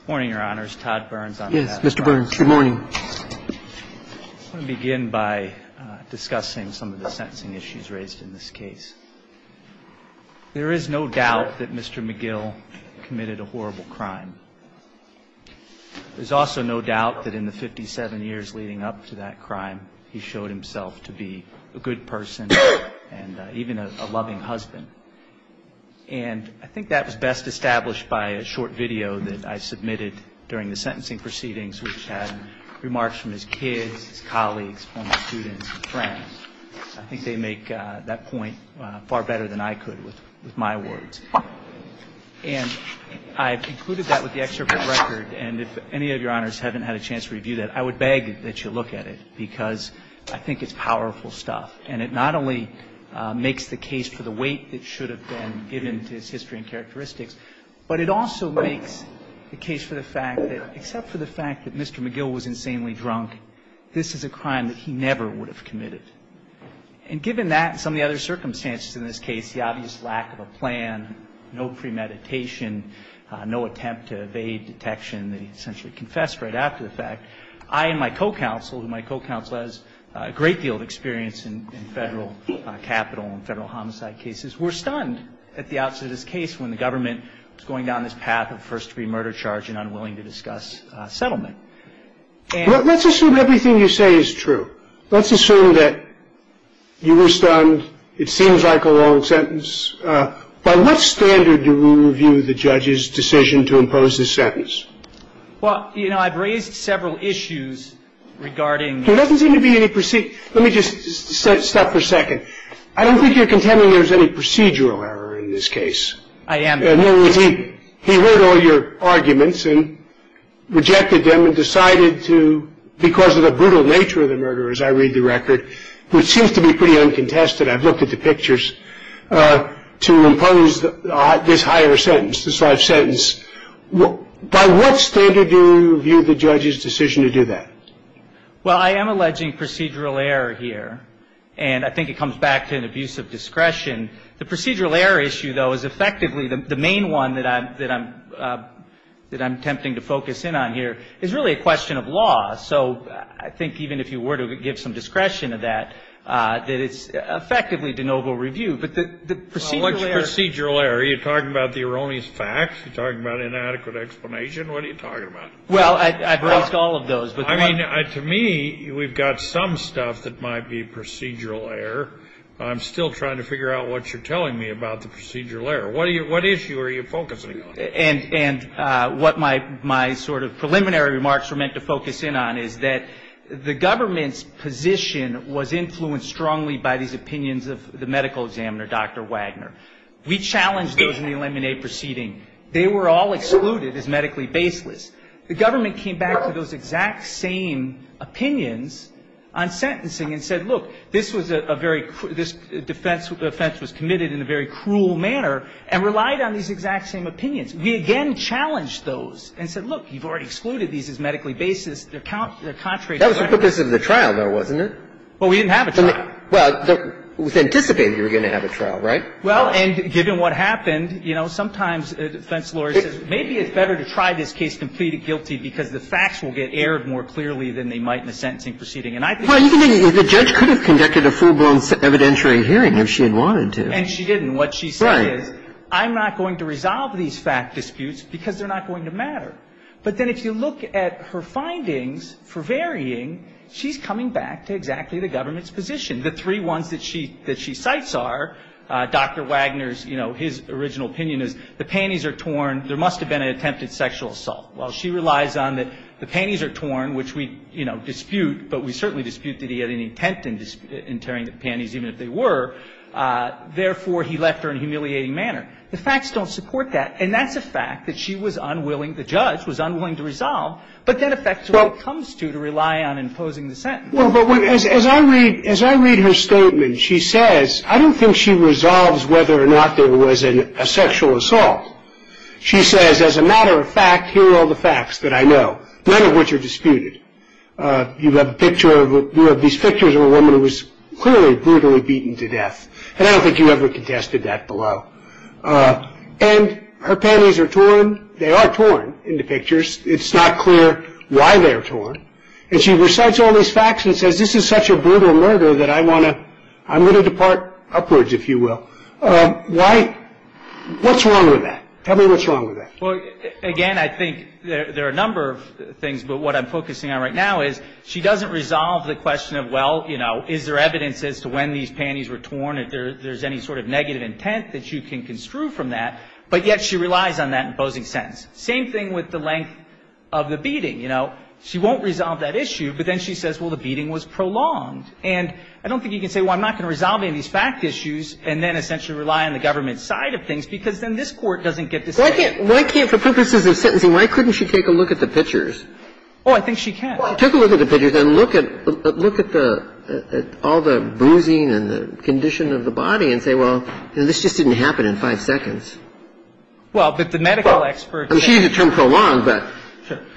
Good morning, Your Honors. Todd Burns on behalf of the House of Representatives. Yes, Mr. Burns. Good morning. I want to begin by discussing some of the sentencing issues raised in this case. There is no doubt that Mr. McGill committed a horrible crime. There's also no doubt that in the 57 years leading up to that crime, he showed himself to be a good person and even a loving husband. And I think that was best established by a short video that I submitted during the sentencing proceedings, which had remarks from his kids, his colleagues, former students, and friends. I think they make that point far better than I could with my words. And I've included that with the extricate record. And if any of Your Honors haven't had a chance to review that, I would beg that you look at it, because I think it's powerful stuff. And it not only makes the case for the weight that should have been given to his history and characteristics, but it also makes the case for the fact that except for the fact that Mr. McGill was insanely drunk, this is a crime that he never would have committed. And given that and some of the other circumstances in this case, the obvious lack of a plan, no premeditation, no attempt to evade detection that he essentially confessed right after the fact, I and my co-counsel, who my co-counsel has a great deal of experience in federal capital and federal homicide cases, were stunned at the outset of this case when the government was going down this path of first-degree murder charge and unwilling to discuss settlement. And — Let's assume everything you say is true. Let's assume that you were stunned. It seems like a long sentence. By what standard do we review the judge's decision to impose this sentence? Well, you know, I've raised several issues regarding — There doesn't seem to be any — let me just stop for a second. I don't think you're contending there's any procedural error in this case. I am not. He heard all your arguments and rejected them and decided to, because of the brutal nature of the murder, as I read the record, which seems to be pretty uncontested — to impose this higher sentence, this life sentence. By what standard do you view the judge's decision to do that? Well, I am alleging procedural error here, and I think it comes back to an abuse of discretion. The procedural error issue, though, is effectively the main one that I'm attempting to focus in on here. It's really a question of law, so I think even if you were to give some discretion to that, that it's effectively de novo review. But the procedural error — What's procedural error? Are you talking about the erroneous facts? Are you talking about inadequate explanation? What are you talking about? Well, I've raised all of those, but — I mean, to me, we've got some stuff that might be procedural error. I'm still trying to figure out what you're telling me about the procedural error. What issue are you focusing on? And what my sort of preliminary remarks were meant to focus in on is that the government's position was influenced strongly by these opinions of the medical examiner, Dr. Wagner. We challenged those in the Lemonade proceeding. They were all excluded as medically baseless. The government came back to those exact same opinions on sentencing and said, look, this was a very — this defense was committed in a very cruel manner and relied on these exact same opinions. We, again, challenged those and said, look, you've already excluded these as medically baseless. They're contrary — That was the purpose of the trial, though, wasn't it? Well, we didn't have a trial. Well, it was anticipated you were going to have a trial, right? Well, and given what happened, you know, sometimes a defense lawyer says maybe it's better to try this case completely guilty because the facts will get erred more clearly than they might in a sentencing proceeding. And I think — Well, the judge could have conducted a full-blown evidentiary hearing if she had wanted to. And she didn't. What she said is — Right. I'm not going to resolve these fact disputes because they're not going to matter. But then if you look at her findings for varying, she's coming back to exactly the government's position. The three ones that she — that she cites are Dr. Wagner's — you know, his original opinion is the panties are torn. There must have been an attempted sexual assault. Well, she relies on that the panties are torn, which we, you know, dispute, but we certainly dispute that he had any intent in tearing the panties, even if they were. Therefore, he left her in a humiliating manner. The facts don't support that. And that's a fact that she was unwilling — the judge was unwilling to resolve, but that affects what it comes to, to rely on imposing the sentence. Well, but when — as I read — as I read her statement, she says — I don't think she resolves whether or not there was a sexual assault. She says, as a matter of fact, here are all the facts that I know, none of which are disputed. You have a picture of — you have these pictures of a woman who was clearly brutally beaten to death. And I don't think you ever contested that below. And her panties are torn. They are torn in the pictures. It's not clear why they're torn. And she recites all these facts and says, this is such a brutal murder that I want to — I'm going to depart upwards, if you will. Why — what's wrong with that? Tell me what's wrong with that. Well, again, I think there are a number of things, but what I'm focusing on right now is she doesn't resolve the question of, well, you know, is there evidence as to when these panties were torn, if there's any sort of negative intent that you can construe from that. But yet she relies on that imposing sentence. Same thing with the length of the beating. You know, she won't resolve that issue, but then she says, well, the beating was prolonged. And I don't think you can say, well, I'm not going to resolve any of these fact issues and then essentially rely on the government's side of things, because then this Court doesn't get the same. Why can't — why can't — for purposes of sentencing, why couldn't she take a look at the pictures? Oh, I think she can. Take a look at the pictures and look at — look at the — all the bruising and the condition of the body and say, well, you know, this just didn't happen in five seconds. Well, but the medical expert — I mean, she used the term prolonged, but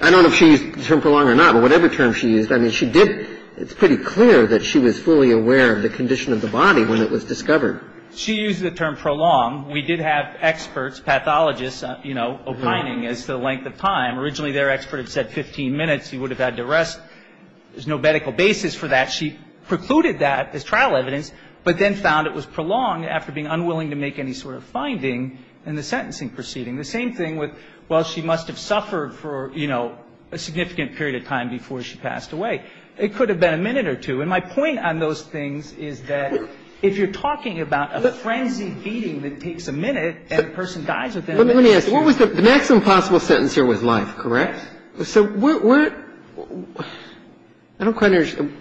I don't know if she used the term prolonged or not. But whatever term she used, I mean, she did — it's pretty clear that she was fully aware of the condition of the body when it was discovered. She used the term prolonged. We did have experts, pathologists, you know, opining as to the length of time. Originally, their expert had said 15 minutes. He would have had to rest. There's no medical basis for that. She precluded that as trial evidence, but then found it was prolonged after being unwilling to make any sort of finding in the sentencing proceeding. The same thing with, well, she must have suffered for, you know, a significant period of time before she passed away. It could have been a minute or two. And my point on those things is that if you're talking about a frenzied beating that takes a minute and a person dies within a minute. And I think you're right. I mean, the question is, what is the maximum possible sentence here with life, correct? So what — I don't quite understand.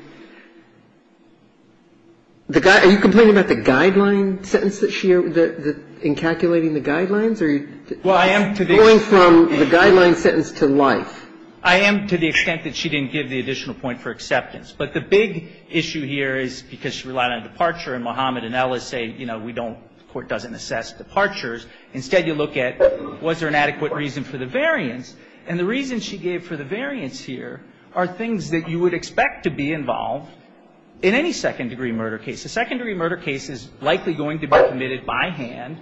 The guy — are you complaining about the guideline sentence that she — in calculating the guidelines, or are you going from the guideline sentence to life? I am to the extent that she didn't give the additional point for acceptance. But the big issue here is, because she relied on departure and Mohammed and Ellis say, you know, we don't — the court doesn't assess departures. Instead, you look at, was there an adequate reason for the variance? And the reason she gave for the variance here are things that you would expect to be involved in any second-degree murder case. A second-degree murder case is likely going to be committed by hand,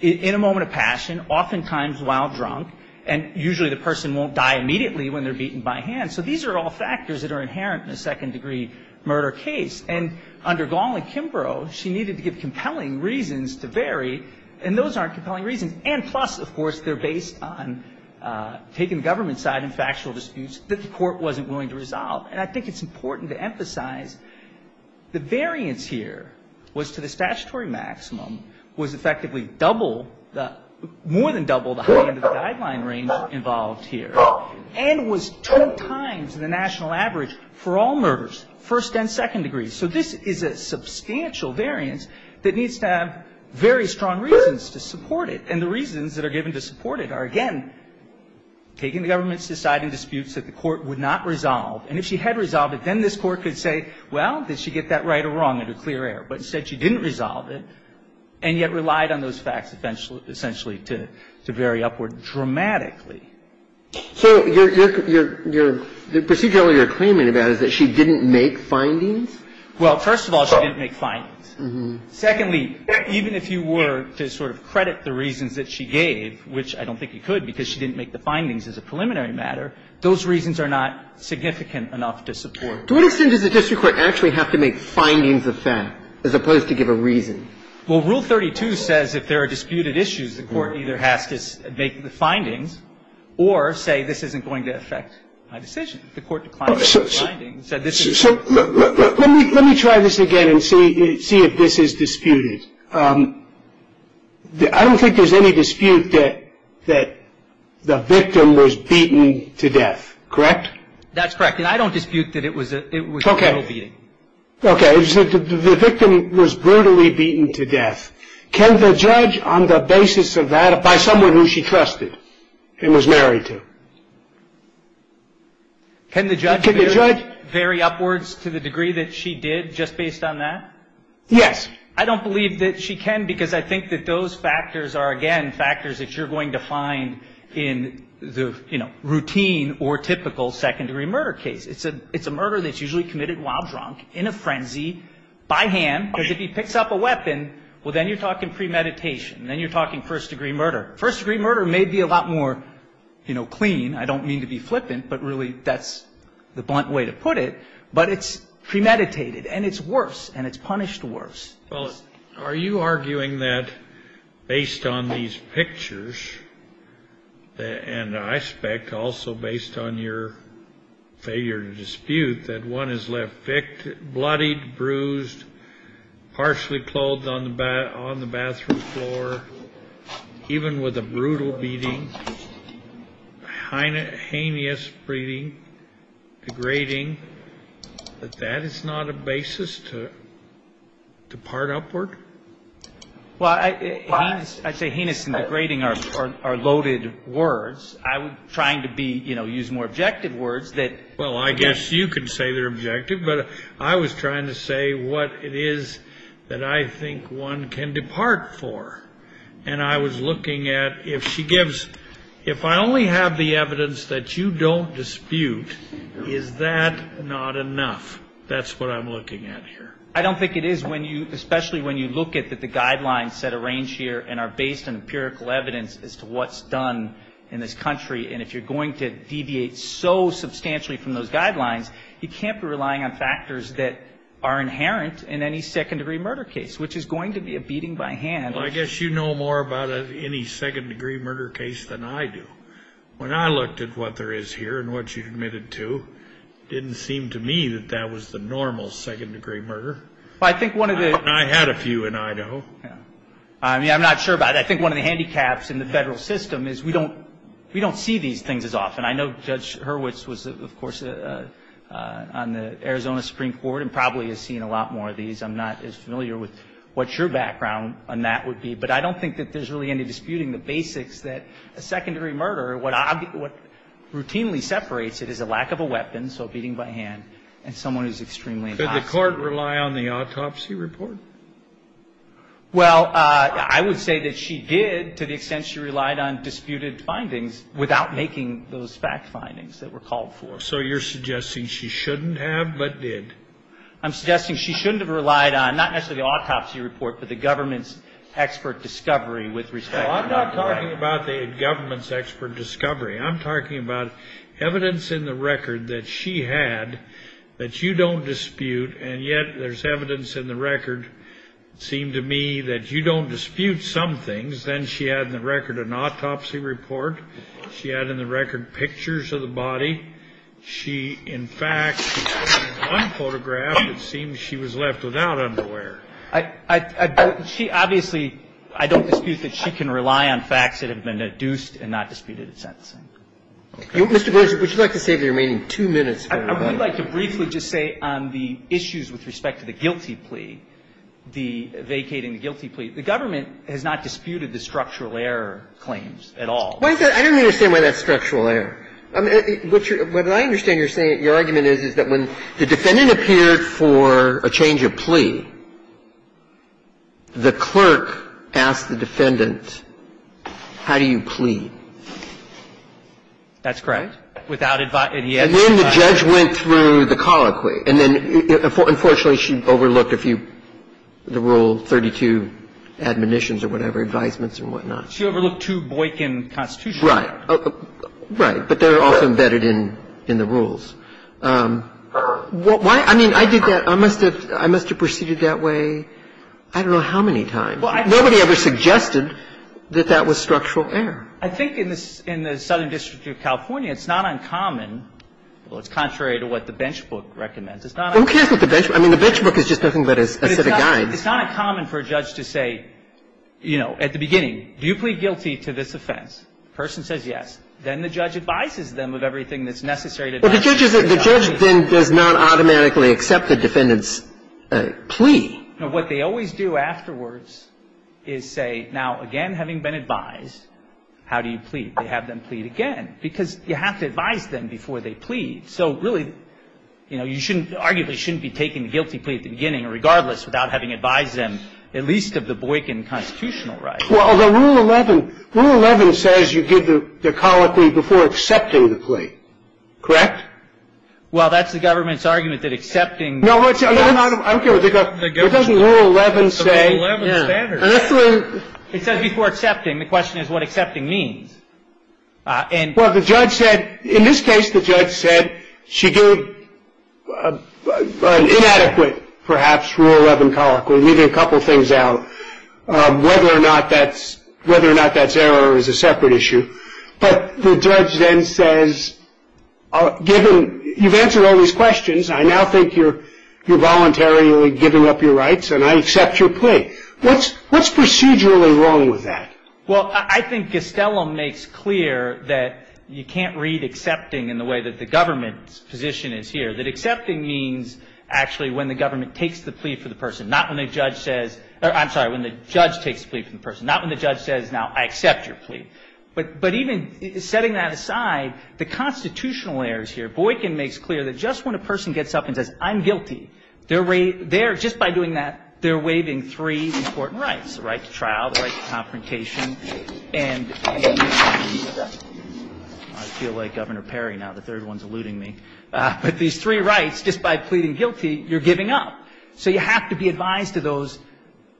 in a moment of passion, oftentimes while drunk, and usually the person won't die immediately when they're beaten by hand. So these are all factors that are inherent in a second-degree murder case. And under Gong and Kimbrough, she needed to give compelling reasons to vary, and those aren't compelling reasons. And plus, of course, they're based on taking the government side and factual disputes that the court wasn't willing to resolve. And I think it's important to emphasize the variance here was to the statutory maximum, was effectively double the — more than double the high end of the guideline range involved here, and was two times the national average for all murders, first and second degrees. So this is a substantial variance that needs to have very strong reasons to support it. And the reasons that are given to support it are, again, taking the government's side and disputes that the court would not resolve. And if she had resolved it, then this Court could say, well, did she get that right or wrong under clear air? But instead, she didn't resolve it, and yet relied on those facts essentially to vary upward dramatically. So your — the procedure you're claiming about is that she didn't make findings? Well, first of all, she didn't make findings. Mm-hmm. Secondly, even if you were to sort of credit the reasons that she gave, which I don't think you could because she didn't make the findings as a preliminary matter, those reasons are not significant enough to support it. To what extent does the district court actually have to make findings of fact as opposed to give a reason? Well, Rule 32 says if there are disputed issues, the court either has to make the findings or say this isn't going to affect my decision. The court declined those findings and said this is — So let me try this again and see if this is disputed. I don't think there's any dispute that the victim was beaten to death. Correct? That's correct. And I don't dispute that it was a — it was a brutal beating. Okay. Okay. The victim was brutally beaten to death. Can the judge, on the basis of that, by someone who she trusted and was married to? Can the judge vary upwards to the degree that she did just based on that? Yes. I don't believe that she can because I think that those factors are, again, factors that you're going to find in the, you know, routine or typical second-degree murder case. It's a murder that's usually committed while drunk, in a frenzy, by hand, because if he Then you're talking premeditation. Then you're talking first-degree murder. First-degree murder may be a lot more, you know, clean. I don't mean to be flippant, but really that's the blunt way to put it. But it's premeditated, and it's worse, and it's punished worse. Well, are you arguing that based on these pictures, and I suspect also based on your failure to dispute, that one is left victim, bloodied, bruised, partially clothed on the bathroom floor, even with a brutal beating, heinous breeding, degrading, that that is not a basis to part upward? Well, I say heinous and degrading are loaded words. I'm trying to be, you know, use more objective words that Well, I guess you can say they're objective, but I was trying to say what it is that I think one can depart for. And I was looking at if she gives, if I only have the evidence that you don't dispute, is that not enough? That's what I'm looking at here. I don't think it is when you, especially when you look at the guidelines that are arranged here and are based on empirical evidence as to what's done in this country. And if you're going to deviate so substantially from those guidelines, you can't be relying on factors that are inherent in any second-degree murder case, which is going to be a beating by hand. Well, I guess you know more about any second-degree murder case than I do. When I looked at what there is here and what you admitted to, it didn't seem to me that that was the normal second-degree murder. I think one of the I had a few in Idaho. I mean, I'm not sure about it. I think one of the handicaps in the Federal system is we don't see these things as often. I know Judge Hurwitz was, of course, on the Arizona Supreme Court and probably has seen a lot more of these. I'm not as familiar with what your background on that would be. But I don't think that there's really any disputing the basics that a second-degree murder, what routinely separates it is a lack of a weapon, so a beating by hand, and someone who's extremely hostile. Could the Court rely on the autopsy report? Well, I would say that she did to the extent she relied on disputed findings without making those fact findings that were called for. So you're suggesting she shouldn't have but did? I'm suggesting she shouldn't have relied on, not necessarily the autopsy report, but the government's expert discovery with respect to murder. Well, I'm not talking about the government's expert discovery. I'm talking about evidence in the record that she had that you don't dispute, and yet there's evidence in the record, it seemed to me, that you don't dispute some things. Then she had in the record an autopsy report. She had in the record pictures of the body. She, in fact, in one photograph, it seems she was left without underwear. She obviously, I don't dispute that she can rely on facts that have been deduced and not disputed in sentencing. Mr. Berger, would you like to save the remaining two minutes? I would like to briefly just say on the issues with respect to the guilty plea, the vacating the guilty plea, the government has not disputed the structural error claims at all. I don't understand why that's structural error. What I understand your argument is, is that when the defendant appeared for a change of plea, the clerk asked the defendant, how do you plea? That's correct. Without advice. And then the judge went through the colloquy. And then, unfortunately, she overlooked a few, the rule 32 admonitions or whatever, advisements and whatnot. She overlooked two Boykin constitutional rules. Right. Right. But they're also embedded in the rules. Why? I mean, I did that. I must have proceeded that way I don't know how many times. Nobody ever suggested that that was structural error. I think in the Southern District of California, it's not uncommon, well, it's contrary to what the bench book recommends. It's not uncommon. Who cares what the bench book? I mean, the bench book is just nothing but a set of guides. It's not uncommon for a judge to say, you know, at the beginning, do you plead guilty to this offense? The person says yes. Then the judge advises them of everything that's necessary to advance the case. The judge then does not automatically accept the defendant's plea. Now, what they always do afterwards is say, now, again, having been advised, how do you plead? They have them plead again. Because you have to advise them before they plead. So, really, you know, you shouldn't, arguably, shouldn't be taking the guilty plea at the beginning, regardless, without having advised them, at least of the Boykin constitutional rights. Well, the Rule 11, Rule 11 says you give the colloquy before accepting the plea. Correct? Well, that's the government's argument that accepting. No, I'm kidding. What does Rule 11 say? It says before accepting. The question is what accepting means. Well, the judge said, in this case, the judge said she gave an inadequate, perhaps, Rule 11 colloquy, leaving a couple things out, whether or not that's error is a separate issue. But the judge then says, given you've answered all these questions, I now think you're voluntarily giving up your rights, and I accept your plea. What's procedurally wrong with that? Well, I think Gastelum makes clear that you can't read accepting in the way that the government's position is here, that accepting means, actually, when the government takes the plea for the person, not when the judge says or, I'm sorry, when the judge takes the plea for the person, not when the judge says, now, I accept your plea. But even setting that aside, the constitutional errors here, Boykin makes clear that just when a person gets up and says, I'm guilty, just by doing that, they're waiving three important rights, the right to trial, the right to confrontation, and I feel like Governor Perry now, the third one's eluding me. But these three rights, just by pleading guilty, you're giving up. So you have to be advised of those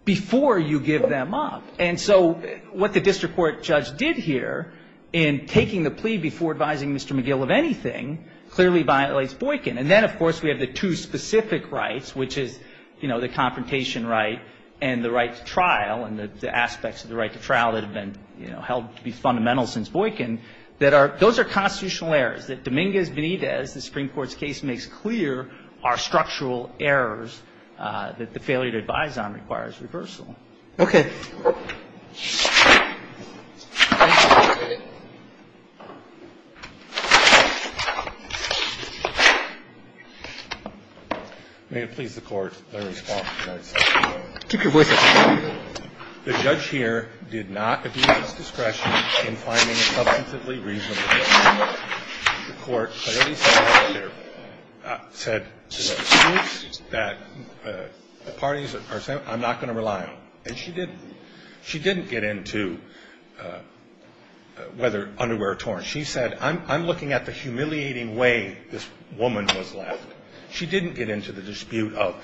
before you give them up. And so what the district court judge did here, in taking the plea before advising Mr. McGill of anything, clearly violates Boykin. And then, of course, we have the two specific rights, which is the confrontation right and the right to trial and the aspects of the right to trial that have been held to be fundamental since Boykin. Those are constitutional errors that Dominguez Benitez, the Supreme Court's case, makes clear are structural errors that the failure to advise on requires reversal. Okay. Thank you, Mr. Chairman. May it please the Court, I respond to your question. Keep your voice up. The judge here did not abuse discretion in finding a substantively reasonable judgment. The court clearly said that the parties are sent, I'm not going to rely on them. And she didn't. She didn't get into whether underwear are torn. She said, I'm looking at the humiliating way this woman was left. She didn't get into the dispute of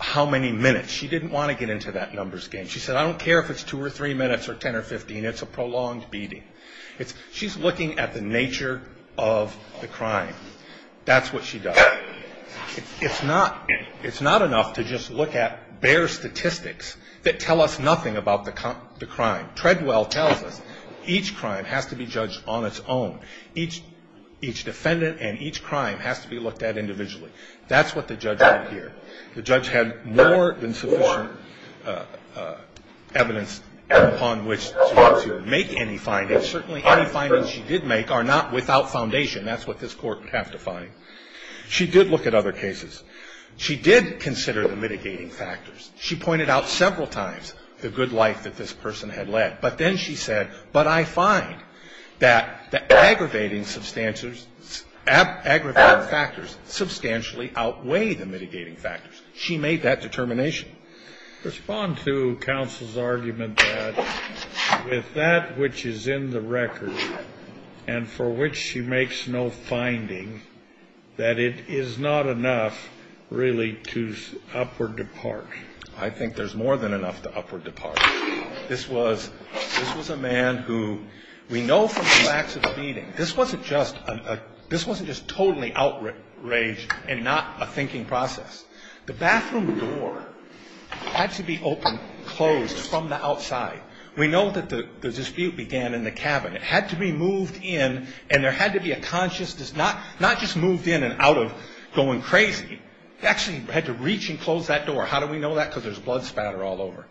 how many minutes. She didn't want to get into that numbers game. She said, I don't care if it's two or three minutes or 10 or 15. It's a prolonged beating. She's looking at the nature of the crime. That's what she does. It's not enough to just look at bare statistics that tell us nothing about the crime. Treadwell tells us each crime has to be judged on its own. Each defendant and each crime has to be looked at individually. That's what the judge did here. The judge had more than sufficient evidence upon which to make any findings. Certainly any findings she did make are not without foundation. That's what this court would have to find. She did look at other cases. She did consider the mitigating factors. She pointed out several times the good life that this person had led. But then she said, but I find that the aggravating factors substantially outweigh the mitigating factors. She made that determination. Respond to counsel's argument that with that which is in the record and for which she makes no finding, that it is not enough really to upward depart. I think there's more than enough to upward depart. This was a man who we know from the facts of the beating. This wasn't just totally outraged and not a thinking process. The bathroom door had to be opened and closed from the outside. We know that the dispute began in the cabin. It had to be moved in and there had to be a conscious, not just moved in and out of going crazy. It actually had to reach and close that door. How do we know that? Because there's blood spatter all over.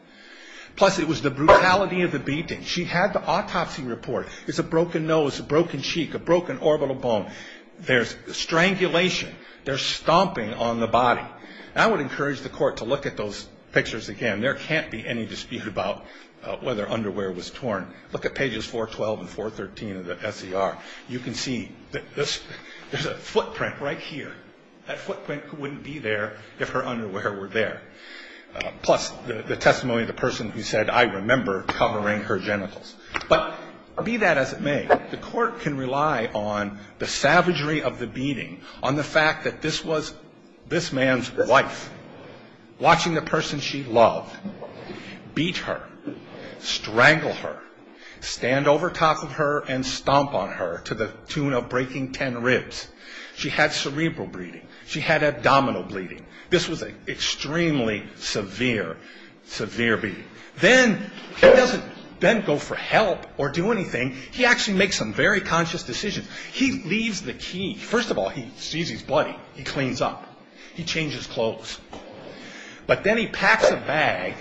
Plus it was the brutality of the beating. She had the autopsy report. It's a broken nose, a broken cheek, a broken orbital bone. There's strangulation. There's stomping on the body. I would encourage the court to look at those pictures again. There can't be any dispute about whether underwear was torn. Look at pages 412 and 413 of the S.E.R. You can see that there's a footprint right here. That footprint wouldn't be there if her underwear were there. Plus the testimony of the person who said, I remember covering her genitals. But be that as it may, the court can rely on the savagery of the beating, on the fact that this was this man's wife watching the person she loved beat her, strangle her, stand over top of her and stomp on her to the tune of breaking ten ribs. She had cerebral bleeding. She had abdominal bleeding. This was an extremely severe, severe beating. Then he doesn't then go for help or do anything. He actually makes some very conscious decisions. He leaves the key. First of all, he sees his buddy. He cleans up. He changes clothes. But then he packs a bag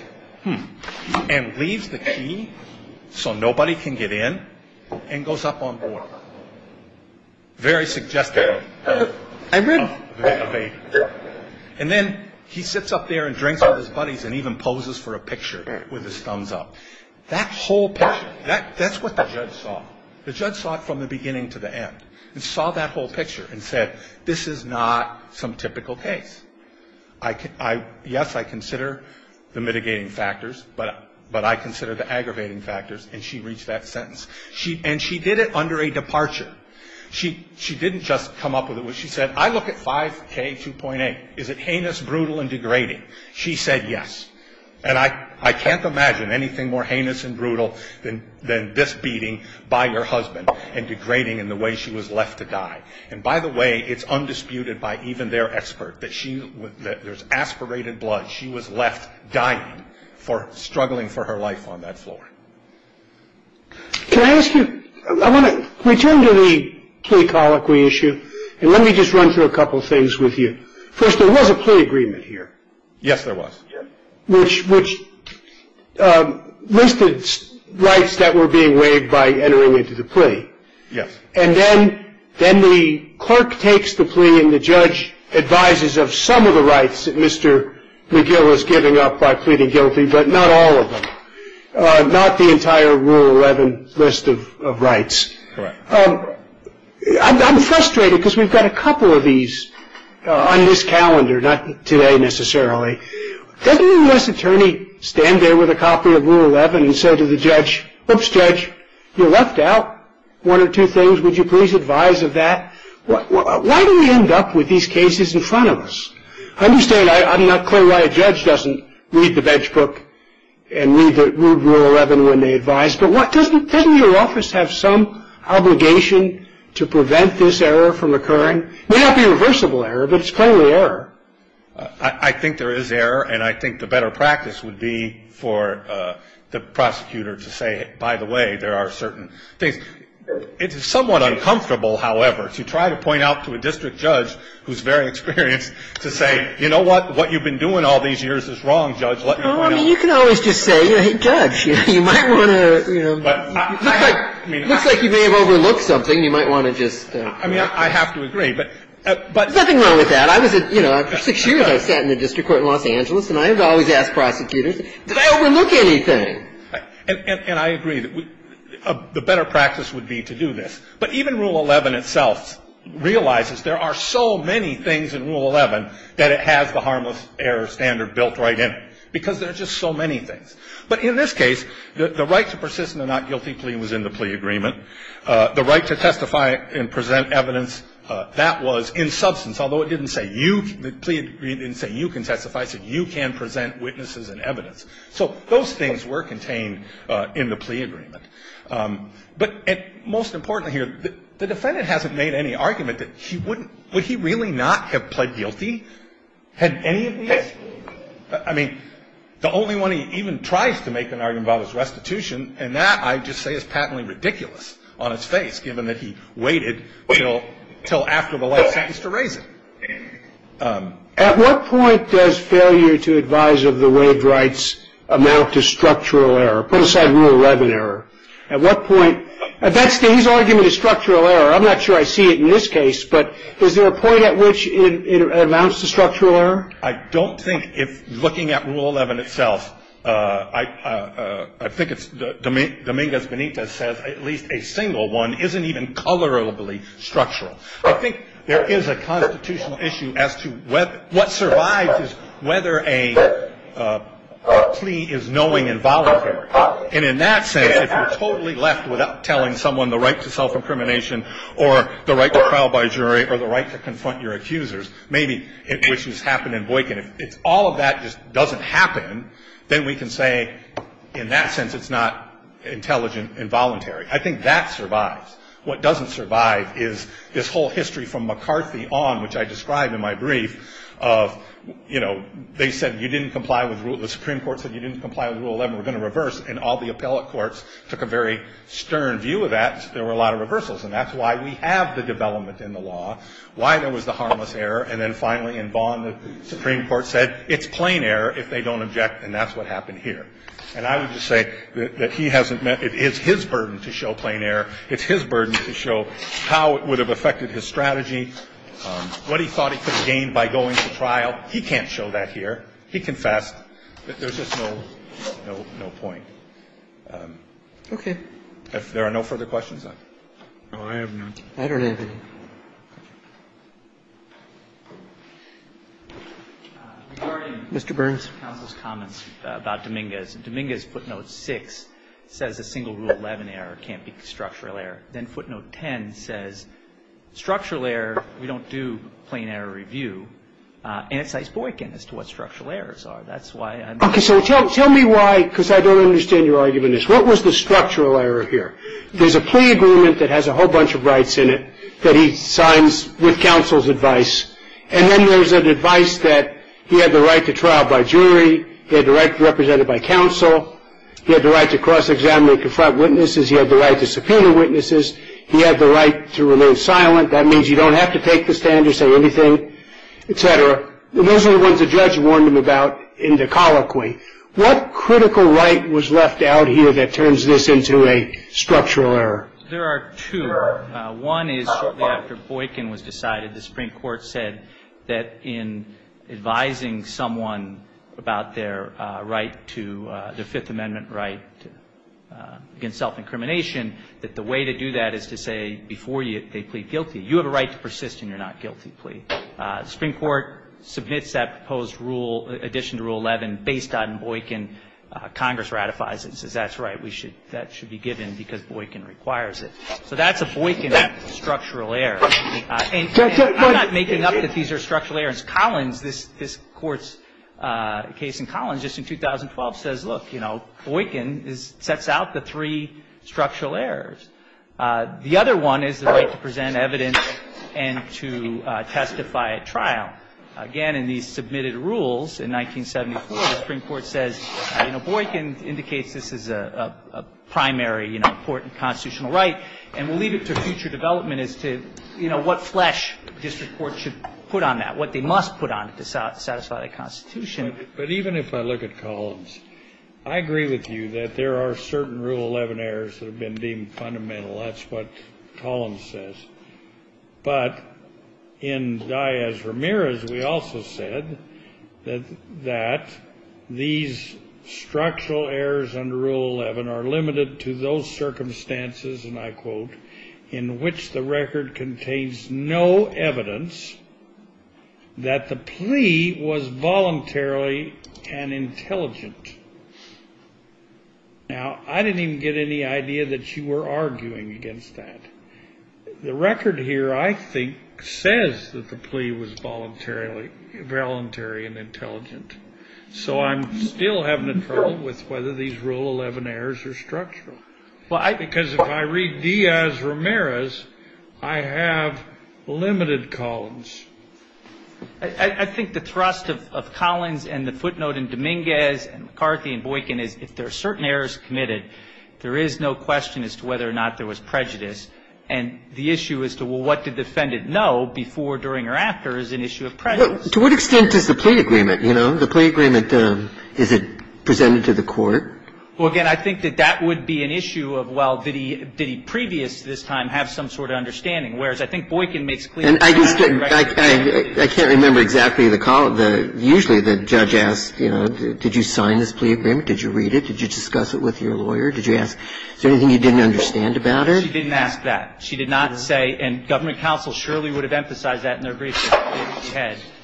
and leaves the key so nobody can get in and goes up on board. Very suggestive of a baby. And then he sits up there and drinks with his buddies and even poses for a picture with his thumbs up. That whole picture, that's what the judge saw. The judge saw it from the beginning to the end and saw that whole picture and said, this is not some typical case. Yes, I consider the mitigating factors, but I consider the aggravating factors. And she reached that sentence. And she did it under a departure. She didn't just come up with it. She said, I look at 5K2.8. Is it heinous, brutal, and degrading? She said yes. And I can't imagine anything more heinous and brutal than this beating by her husband and degrading in the way she was left to die. And, by the way, it's undisputed by even their expert that there's aspirated blood. She was left dying for struggling for her life on that floor. Can I ask you, I want to return to the plea colloquy issue. And let me just run through a couple of things with you. First, there was a plea agreement here. Yes, there was. Which listed rights that were being waived by entering into the plea. Yes. And then the clerk takes the plea and the judge advises of some of the rights that Mr. McGill is giving up by pleading guilty, but not all of them. Not the entire Rule 11 list of rights. Correct. I'm frustrated because we've got a couple of these on this calendar, not today necessarily. Doesn't a U.S. attorney stand there with a copy of Rule 11 and say to the judge, oops, judge, you're left out one or two things. Would you please advise of that? Why do we end up with these cases in front of us? I understand. I'm not clear why a judge doesn't read the bench book and read Rule 11 when they advise. But doesn't your office have some obligation to prevent this error from occurring? It may not be reversible error, but it's clearly error. I think there is error, and I think the better practice would be for the prosecutor to say, by the way, there are certain things. It's somewhat uncomfortable, however, to try to point out to a district judge who's very experienced to say, you know what? What you've been doing all these years is wrong, judge. Let me point out. Well, I mean, you can always just say, hey, judge, you might want to, you know. It looks like you may have overlooked something. You might want to just. I mean, I have to agree, but. There's nothing wrong with that. I was, you know, for six years I sat in the district court in Los Angeles, and I have always asked prosecutors, did I overlook anything? And I agree that the better practice would be to do this. But even Rule 11 itself realizes there are so many things in Rule 11 that it has the harmless error standard built right in. Because there are just so many things. But in this case, the right to persist in a not guilty plea was in the plea agreement. The right to testify and present evidence, that was in substance, although it didn't say you. The plea agreement didn't say you can testify. It said you can present witnesses and evidence. So those things were contained in the plea agreement. But most importantly here, the defendant hasn't made any argument that he wouldn't, would he really not have pled guilty had any of these? I mean, the only one he even tries to make an argument about is restitution. And that, I just say, is patently ridiculous on its face, given that he waited until after the life sentence to raise it. At what point does failure to advise of the waived rights amount to structural error? Put aside Rule 11 error. At what point? He's arguing a structural error. I'm not sure I see it in this case. But is there a point at which it amounts to structural error? I don't think if looking at Rule 11 itself, I think it's Dominguez Benitez says at least a single one isn't even colorably structural. I think there is a constitutional issue as to what survives is whether a plea is knowing and voluntary. And in that sense, if you're totally left without telling someone the right to self-incrimination or the right to trial by jury or the right to confront your accusers, maybe which has happened in Boykin, if all of that just doesn't happen, then we can say in that sense it's not intelligent and voluntary. I think that survives. What doesn't survive is this whole history from McCarthy on, which I described in my brief of, you know, they said you didn't comply with the Supreme Court said you didn't comply with Rule 11. We're going to reverse. And all the appellate courts took a very stern view of that. There were a lot of reversals. And that's why we have the development in the law, why there was the harmless error. And then finally in Vaughn, the Supreme Court said it's plain error if they don't object. And that's what happened here. And I would just say that he hasn't met. It is his burden to show plain error. It's his burden to show how it would have affected his strategy, what he thought he could have gained by going to trial. He can't show that here. He confessed. There's just no point. Roberts. Okay. If there are no further questions, then. No, I have none. I don't have any. Mr. Burns. Counsel's comments about Dominguez. Dominguez footnote 6 says a single Rule 11 error can't be a structural error. Then footnote 10 says structural error, we don't do plain error review. And it's icebreaking as to what structural errors are. That's why I'm. Okay. So tell me why, because I don't understand your argument. What was the structural error here? There's a plea agreement that has a whole bunch of rights in it that he signs with counsel's advice. And then there's an advice that he had the right to trial by jury. He had the right to be represented by counsel. He had the right to cross-examine and confront witnesses. He had the right to subpoena witnesses. He had the right to remain silent. That means you don't have to take the stand or say anything, et cetera. And those are the ones the judge warned him about in the colloquy. What critical right was left out here that turns this into a structural error? There are two. One is shortly after Boykin was decided, the Supreme Court said that in advising someone about their right to, their Fifth Amendment right against self-incrimination, that the way to do that is to say, before they plead guilty, you have a right to persist in your not-guilty plea. The Supreme Court submits that proposed rule, addition to Rule 11, based on Boykin. Congress ratifies it and says, that's right, that should be given because Boykin requires it. So that's a Boykin structural error. And I'm not making up that these are structural errors. Collins, this Court's case in Collins, just in 2012, says, look, you know, Boykin sets out the three structural errors. The other one is the right to present evidence and to testify at trial. Again, in these submitted rules in 1974, the Supreme Court says, you know, Boykin indicates this is a primary, you know, important constitutional right, and will leave it to future development as to, you know, what flesh the district court should put on that, what they must put on it to satisfy the Constitution. But even if I look at Collins, I agree with you that there are certain Rule 11 errors that have been deemed fundamental. That's what Collins says. But in Diaz-Ramirez, we also said that these structural errors under Rule 11 are limited to those circumstances, and I quote, in which the record contains no evidence that the plea was voluntarily and intelligent. Now, I didn't even get any idea that you were arguing against that. The record here, I think, says that the plea was voluntarily and intelligent. So I'm still having trouble with whether these Rule 11 errors are structural. Because if I read Diaz-Ramirez, I have limited Collins. I think the thrust of Collins and the footnote in Dominguez and McCarthy and Boykin is if there are certain errors committed, there is no question as to whether or not there was prejudice. And the issue as to, well, what did the defendant know before, during, or after is an issue of prejudice. But to what extent is the plea agreement, you know? The plea agreement, is it presented to the court? Well, again, I think that that would be an issue of, well, did he previous to this time have some sort of understanding, whereas I think Boykin makes clear that that's the record. And I just can't remember exactly the column. Usually the judge asks, you know, did you sign this plea agreement? Did you read it? Did you discuss it with your lawyer? Did you ask? Is there anything you didn't understand about her? She didn't ask that. She did not say, and government counsel surely would have emphasized that in their briefing.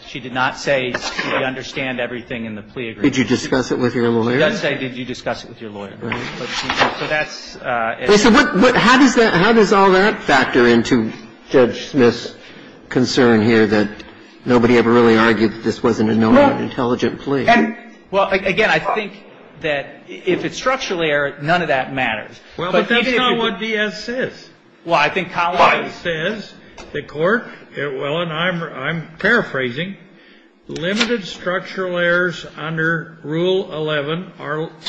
She did not say, do you understand everything in the plea agreement? Did you discuss it with your lawyer? She does say, did you discuss it with your lawyer. So that's an issue. So how does all that factor into Judge Smith's concern here that nobody ever really argued that this wasn't a known and intelligent plea? And, well, again, I think that if it's structural error, none of that matters. Well, but that's not what D.S. says. Well, I think Collin says, the Court, well, and I'm paraphrasing, limited structural errors under Rule 11 are –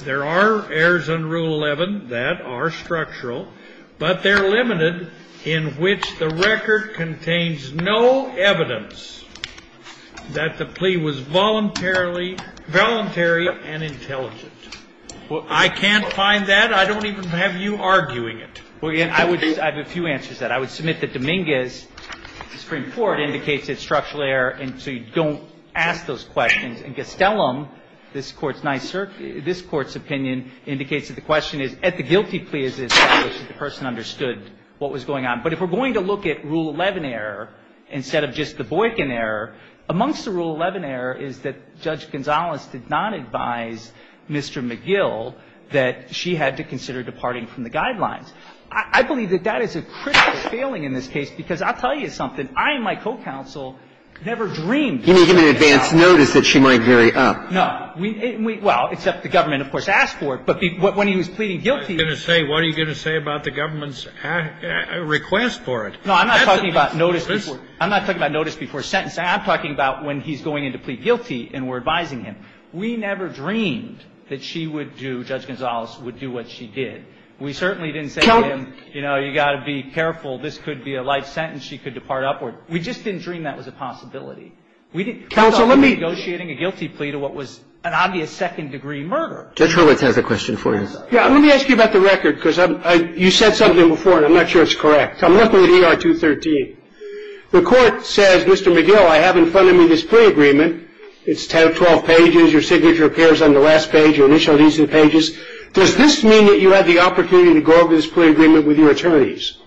there are errors under Rule 11 that are structural, but they're limited in which the record contains no evidence that the plea was voluntarily – voluntary and intelligent. Well, I can't find that. I don't even have you arguing it. Well, again, I would – I have a few answers to that. I would submit that Dominguez's Supreme Court indicates it's structural error, and so you don't ask those questions. And Gastelum, this Court's – this Court's opinion indicates that the question is, at the guilty plea is established that the person understood what was going on. But if we're going to look at Rule 11 error instead of just the Boykin error, amongst the Rule 11 error is that Judge Gonzales did not advise Mr. McGill that she had to consider departing from the guidelines. I believe that that is a critical failing in this case, because I'll tell you something. I and my co-counsel never dreamed that she would fail. You gave him an advance notice that she might vary up. No. Well, except the government, of course, asked for it. But when he was pleading guilty – What are you going to say? What are you going to say about the government's request for it? No, I'm not talking about notice before – I'm not talking about notice before the sentence. I'm talking about when he's going in to plead guilty and we're advising him. We never dreamed that she would do – Judge Gonzales would do what she did. We certainly didn't say to him, you know, you've got to be careful. This could be a life sentence. She could depart upward. We just didn't dream that was a possibility. We didn't – Counsel, let me – Counsel, I'm negotiating a guilty plea to what was an obvious second-degree murder. Judge Hurwitz has a question for you. Yeah. Let me ask you about the record, because I'm – you said something before, and I'm not sure it's correct. I'm looking at ER 213. The court says, Mr. McGill, I have in front of me this plea agreement. It's 12 pages. Your signature appears on the last page. Your initial needs are in the pages. Does this mean that you had the opportunity to go over this plea agreement with your attorneys?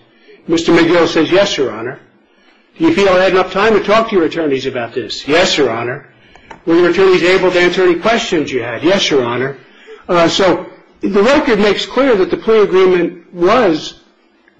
Mr. McGill says, yes, Your Honor. Do you feel I had enough time to talk to your attorneys about this? Yes, Your Honor. Were your attorneys able to answer any questions you had? Yes, Your Honor. So the record makes clear that the plea agreement was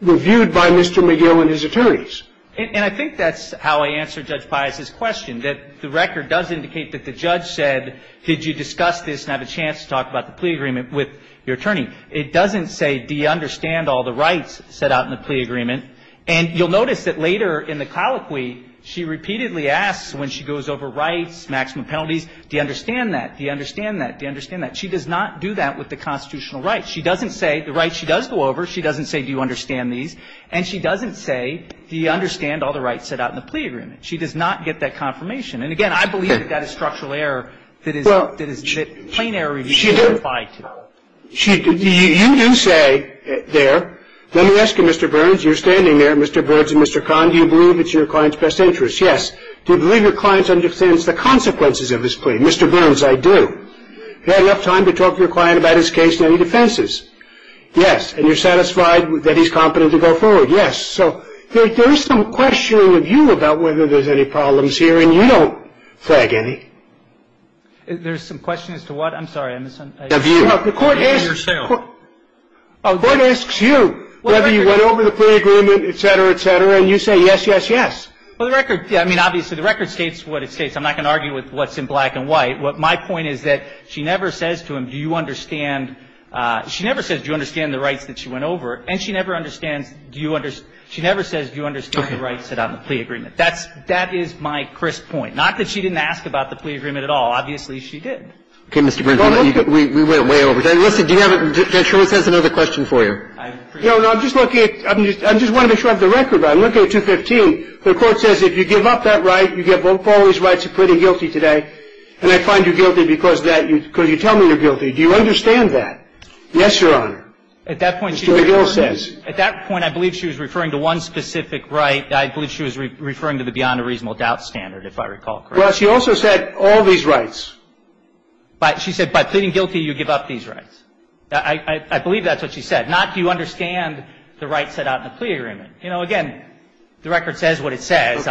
reviewed by Mr. McGill and his attorneys. And I think that's how I answered Judge Pius's question, that the record does indicate that the judge said, did you discuss this and have a chance to talk about the plea agreement with your attorney. It doesn't say, do you understand all the rights set out in the plea agreement. And you'll notice that later in the colloquy, she repeatedly asks when she goes over rights, maximum penalties, do you understand that? Do you understand that? Do you understand that? She does not do that with the constitutional rights. She doesn't say the rights she does go over. She doesn't say, do you understand these? And she doesn't say, do you understand all the rights set out in the plea agreement. She does not get that confirmation. And, again, I believe that that is structural error that is plain error review can't apply to. You do say there, let me ask you, Mr. Burns, you're standing there, Mr. Burns and Mr. Kahn, do you believe it's your client's best interest? Yes. Do you believe your client understands the consequences of his plea? Mr. Burns, I do. Do you have enough time to talk to your client about his case and any defenses? Yes. And you're satisfied that he's competent to go forward? Yes. So there is some questioning of you about whether there's any problems here, and you don't flag any. There's some question as to what? I'm sorry. Of you. Of yourself. The court asks you whether you went over the plea agreement, et cetera, et cetera, and you say yes, yes, yes. Well, the record, I mean, obviously, the record states what it states. I'm not going to argue with what's in black and white. My point is that she never says to him, do you understand, she never says, do you understand the rights that she went over, and she never understands, do you understand, she never says, do you understand the rights that are on the plea agreement. That is my crisp point. Not that she didn't ask about the plea agreement at all. Obviously, she did. Okay, Mr. Burns, we went way over time. Listen, do you have a question for you? No, no, I'm just looking at the record. I'm looking at 215. The court says if you give up that right, you give up all these rights, you're pretty guilty today, and I find you guilty because you tell me you're guilty. Do you understand that? Yes, Your Honor. Mr. O'Donnell says. At that point, I believe she was referring to one specific right. I believe she was referring to the beyond a reasonable doubt standard, if I recall correctly. Well, she also said all these rights. She said by pleading guilty, you give up these rights. I believe that's what she said. Not do you understand the rights set out in the plea agreement. You know, again, the record says what it says.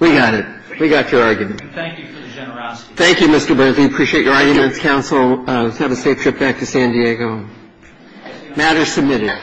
We got it. We got your argument. Thank you for the generosity. Thank you, Mr. Burns. We appreciate your arguments. Counsel, have a safe trip back to San Diego. Matter is submitted.